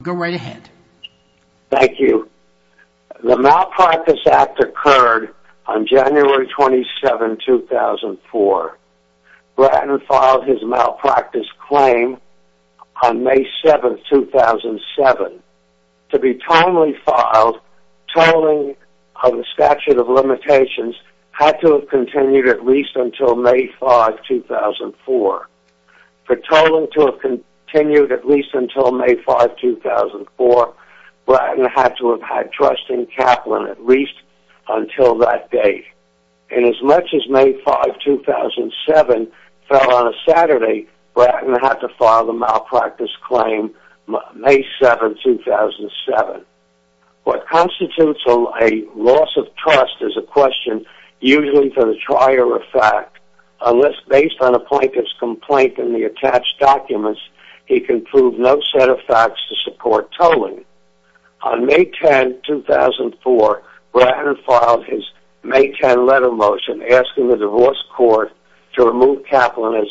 The Malpractice Act occurred on January 27, 2004. Braten filed his malpractice claim on May 7, 2007. To be timely filed, tolling of the statute of limitations had to have continued at least until May 5, 2004. For tolling to have continued at least until May 5, 2004, Braten had to have had trust in Kaplan at least until that date. And as much as May 5, 2007 fell on a Saturday, Braten had to file the malpractice claim May 7, 2007. What a fact. Unless based on a plaintiff's complaint and the attached documents, he can prove no set of facts to support tolling. On May 10, 2004, Braten filed his May 10 letter motion asking the divorce court to remove Kaplan as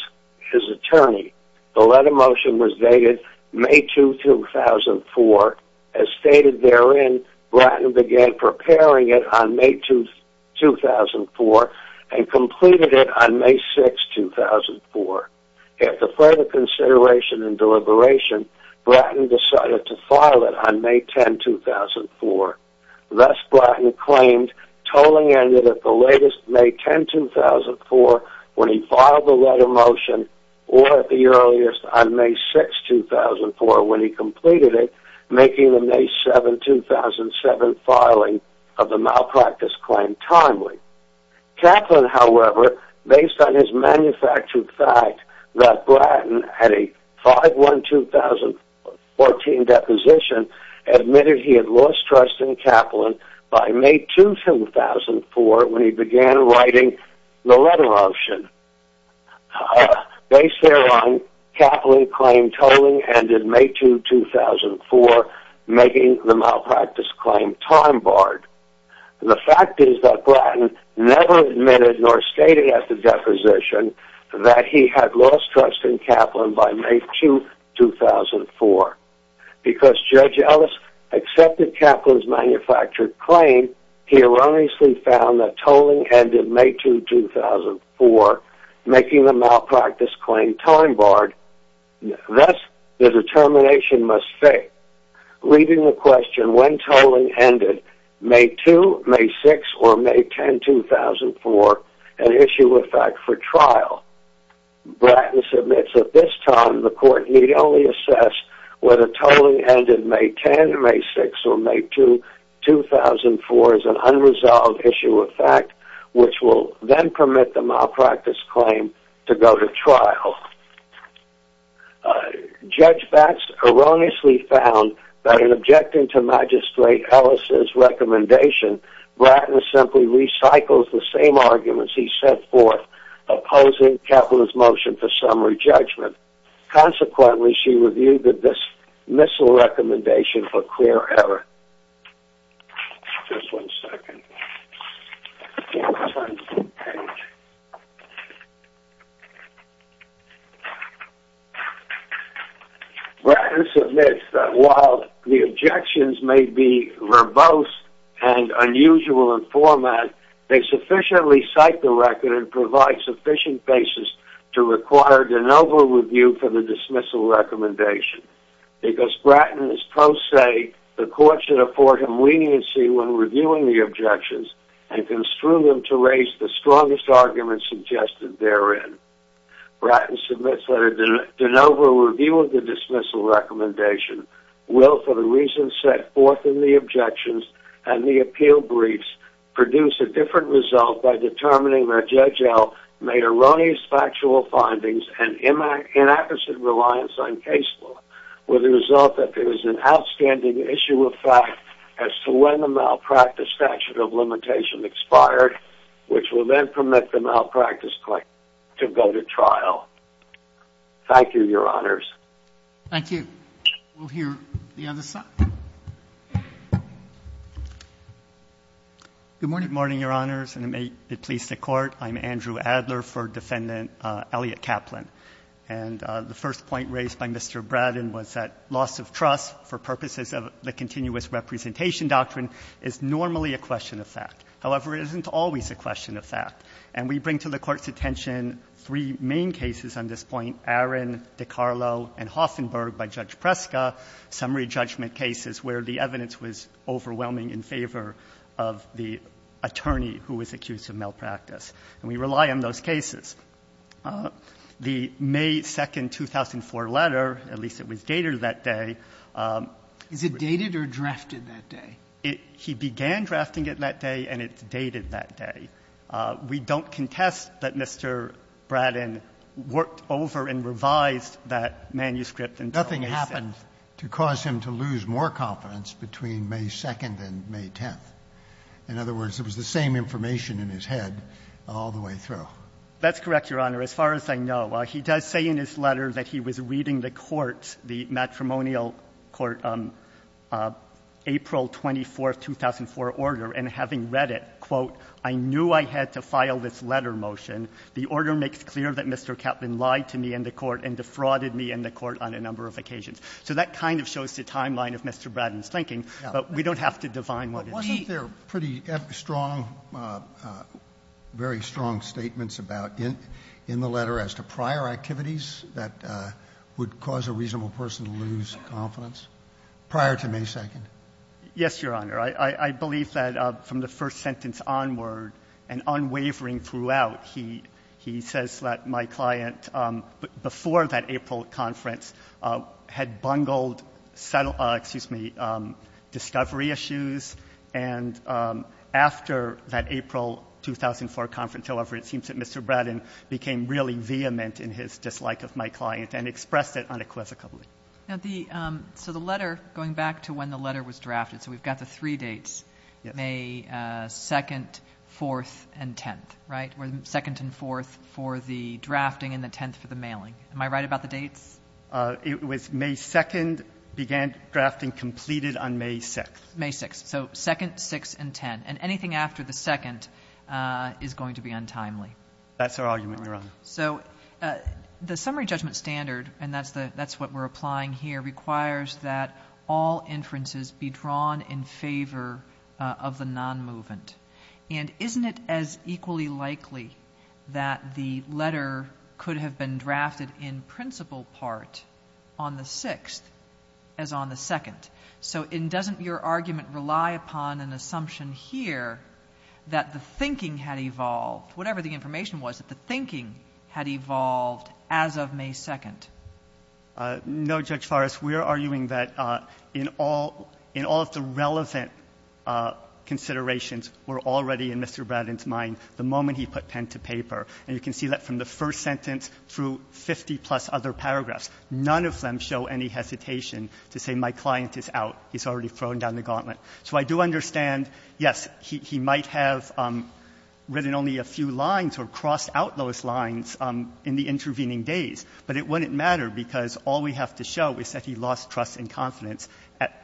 his attorney. The letter motion was dated May 2, 2004. As stated therein, Braten began preparing it on May 2, 2004 and completed it on May 6, 2004. After further consideration and deliberation, Braten decided to file it on May 10, 2004. Thus, Braten claimed tolling ended at the latest May 10, 2004 when he filed the letter motion or at the earliest on May 6, 2004 when he completed it, making the May 7, 2007 filing of the malpractice claim timely. Kaplan, however, based on his manufactured fact that Braten had a 5-1-2014 deposition, admitted he had lost trust in Kaplan by May 2, 2004 when he began writing the letter motion. Based thereon, Kaplan claimed tolling ended May 2, 2004, making the malpractice claim time-barred. The fact is that Braten never admitted nor stated at the deposition that he had lost trust in Kaplan by May 2, 2004. Because Judge Ellis accepted Kaplan's manufactured claim, he erroneously found that tolling ended May 2, 2004, making the malpractice claim time-barred. Thus, the determination must fit, leaving the question when tolling ended May 2, May 6, or May 10, 2004 an issue of fact for trial. Braten submits at this time the court need only assess whether tolling ended May 10, May 6, or May 2, 2004 is an unresolved issue of fact, which will then permit the malpractice claim to go to trial. Judge Batts erroneously found that in objecting to Magistrate Ellis's recommendation, Braten simply recycles the same arguments he set forth opposing Kaplan's motion for summary judgment. Consequently, she reviewed the dismissal recommendation for clear error. Just one second, I can't turn the page. Braten submits that while the objections may be verbose and unusual in format, they sufficiently cite the record and provide sufficient basis to require de novo review for the dismissal recommendation. Because Braten is pro se, the court should afford him leniency when reviewing the objections and construe them to raise the strongest arguments suggested therein. Braten submits that a de novo review will for the reasons set forth in the objections and the appeal briefs produce a different result by determining that Judge Ellis made erroneous factual findings and inappropriate reliance on case law, with the result that there is an outstanding issue of fact as to when the malpractice statute of limitation expired, which will then permit the malpractice claim to go to trial. Thank you, your honors. Thank you. We'll hear the other side. Good morning, your honors, and may it please the Court. I'm Andrew Adler for Defendant Elliot Kaplan. And the first point raised by Mr. Braten was that loss of trust for purposes of the continuous representation doctrine is normally a question of fact. However, it isn't always a question of fact. And we bring to the Court's notice on this point Aaron, DiCarlo, and Hoffenberg by Judge Preska, summary judgment cases where the evidence was overwhelming in favor of the attorney who was accused of malpractice. And we rely on those cases. The May 2, 2004, letter, at least it was dated that day. Is it dated or drafted that day? He began drafting it that day, and it's dated that day. We don't contest that Mr. Braten worked over and revised that manuscript until May 6. Nothing happened to cause him to lose more confidence between May 2 and May 10. In other words, it was the same information in his head all the way through. That's correct, your honor. As far as I know, he does say in his letter that he was reading the court, the matrimonial court, April 24, 2004, order, and having read it, quote, I knew I had to file this letter motion. The order makes clear that Mr. Kaplan lied to me in the court and defrauded me in the court on a number of occasions. So that kind of shows the timeline of Mr. Braten's thinking, but we don't have to define what it means. Wasn't there pretty strong, very strong statements about in the letter as to prior activities that would cause a reasonable person to lose confidence prior to May 2? Yes, your honor. I believe that from the first sentence onward and unwavering throughout, he says that my client before that April conference had bungled discovery issues, and after that April 2004 conference, however, it seems that Mr. Braten became really vehement in his dislike of my client and expressed it unequivocally. So the letter, going back to when the letter was drafted, so we've got the three dates, May 2nd, 4th, and 10th, right? Where the 2nd and 4th for the drafting and the 10th for the mailing. Am I right about the dates? It was May 2nd, began drafting, completed on May 6th. May 6th. So 2nd, 6th, and 10th. And anything after the 2nd is going to be untimely. That's our argument, your honor. So the summary judgment standard, and that's what we're applying here, requires that all inferences be drawn in favor of the non-movement. And isn't it as equally likely that the letter could have been drafted in principal part on the 6th as on the 2nd? So doesn't your argument rely upon an assumption here that the thinking had evolved as of May 2nd? No, Judge Farris. We're arguing that in all of the relevant considerations were already in Mr. Bratton's mind the moment he put pen to paper. And you can see that from the first sentence through 50 plus other paragraphs. None of them show any hesitation to say my client is out. He's already thrown down the gauntlet. So I do understand, yes, he might have written only a few lines or a few sentences in the intervening days. But it wouldn't matter because all we have to show is that he lost trust and confidence at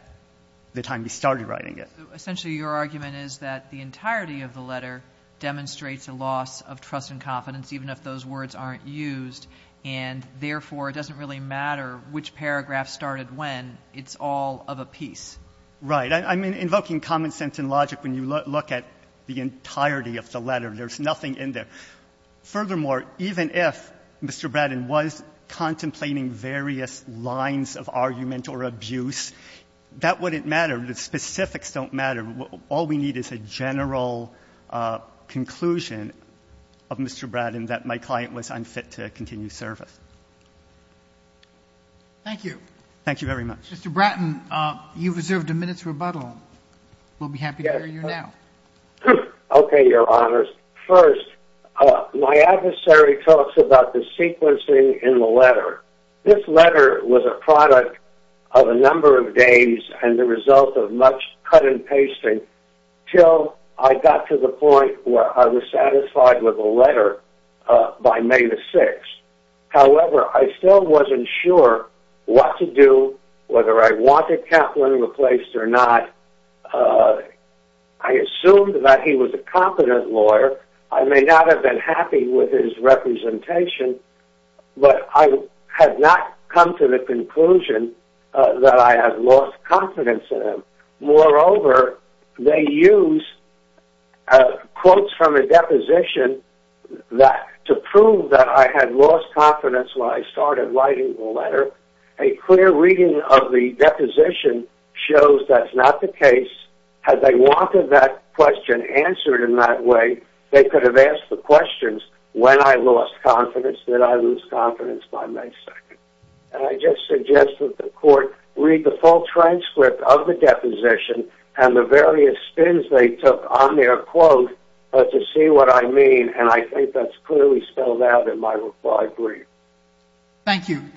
the time he started writing it. Essentially, your argument is that the entirety of the letter demonstrates a loss of trust and confidence, even if those words aren't used. And therefore, it doesn't really matter which paragraph started when, it's all of a piece. Right, I'm invoking common sense and logic when you look at the entirety of the letter, there's nothing in there. Furthermore, even if Mr. Bratton was contemplating various lines of argument or abuse, that wouldn't matter, the specifics don't matter, all we need is a general conclusion of Mr. Bratton that my client was unfit to continue service. Thank you. Thank you very much. Mr. Bratton, you've reserved a minute's rebuttal. We'll be happy to hear you now. Okay, your honors. First, my adversary talks about the sequencing in the letter. This letter was a product of a number of days and the result of much cut and pasting till I got to the point where I was satisfied with the letter by May the 6th. However, I still wasn't sure what to do, whether I wanted Kaplan replaced or not. I assumed that he was a competent lawyer. I may not have been happy with his representation, but I had not come to the conclusion that I had lost confidence in him. Moreover, they use quotes from a deposition to prove that I had lost confidence when I started writing the letter. A clear reading of the deposition shows that's not the case. Had they wanted that question answered in that way, they could have asked the questions, when I lost confidence, did I lose confidence by May 2nd? And I just suggest that the court read the full transcript of the deposition and the various spins they took on their quote to see what I mean. And I think that's clearly spelled out in my reply brief. Thank you. Thank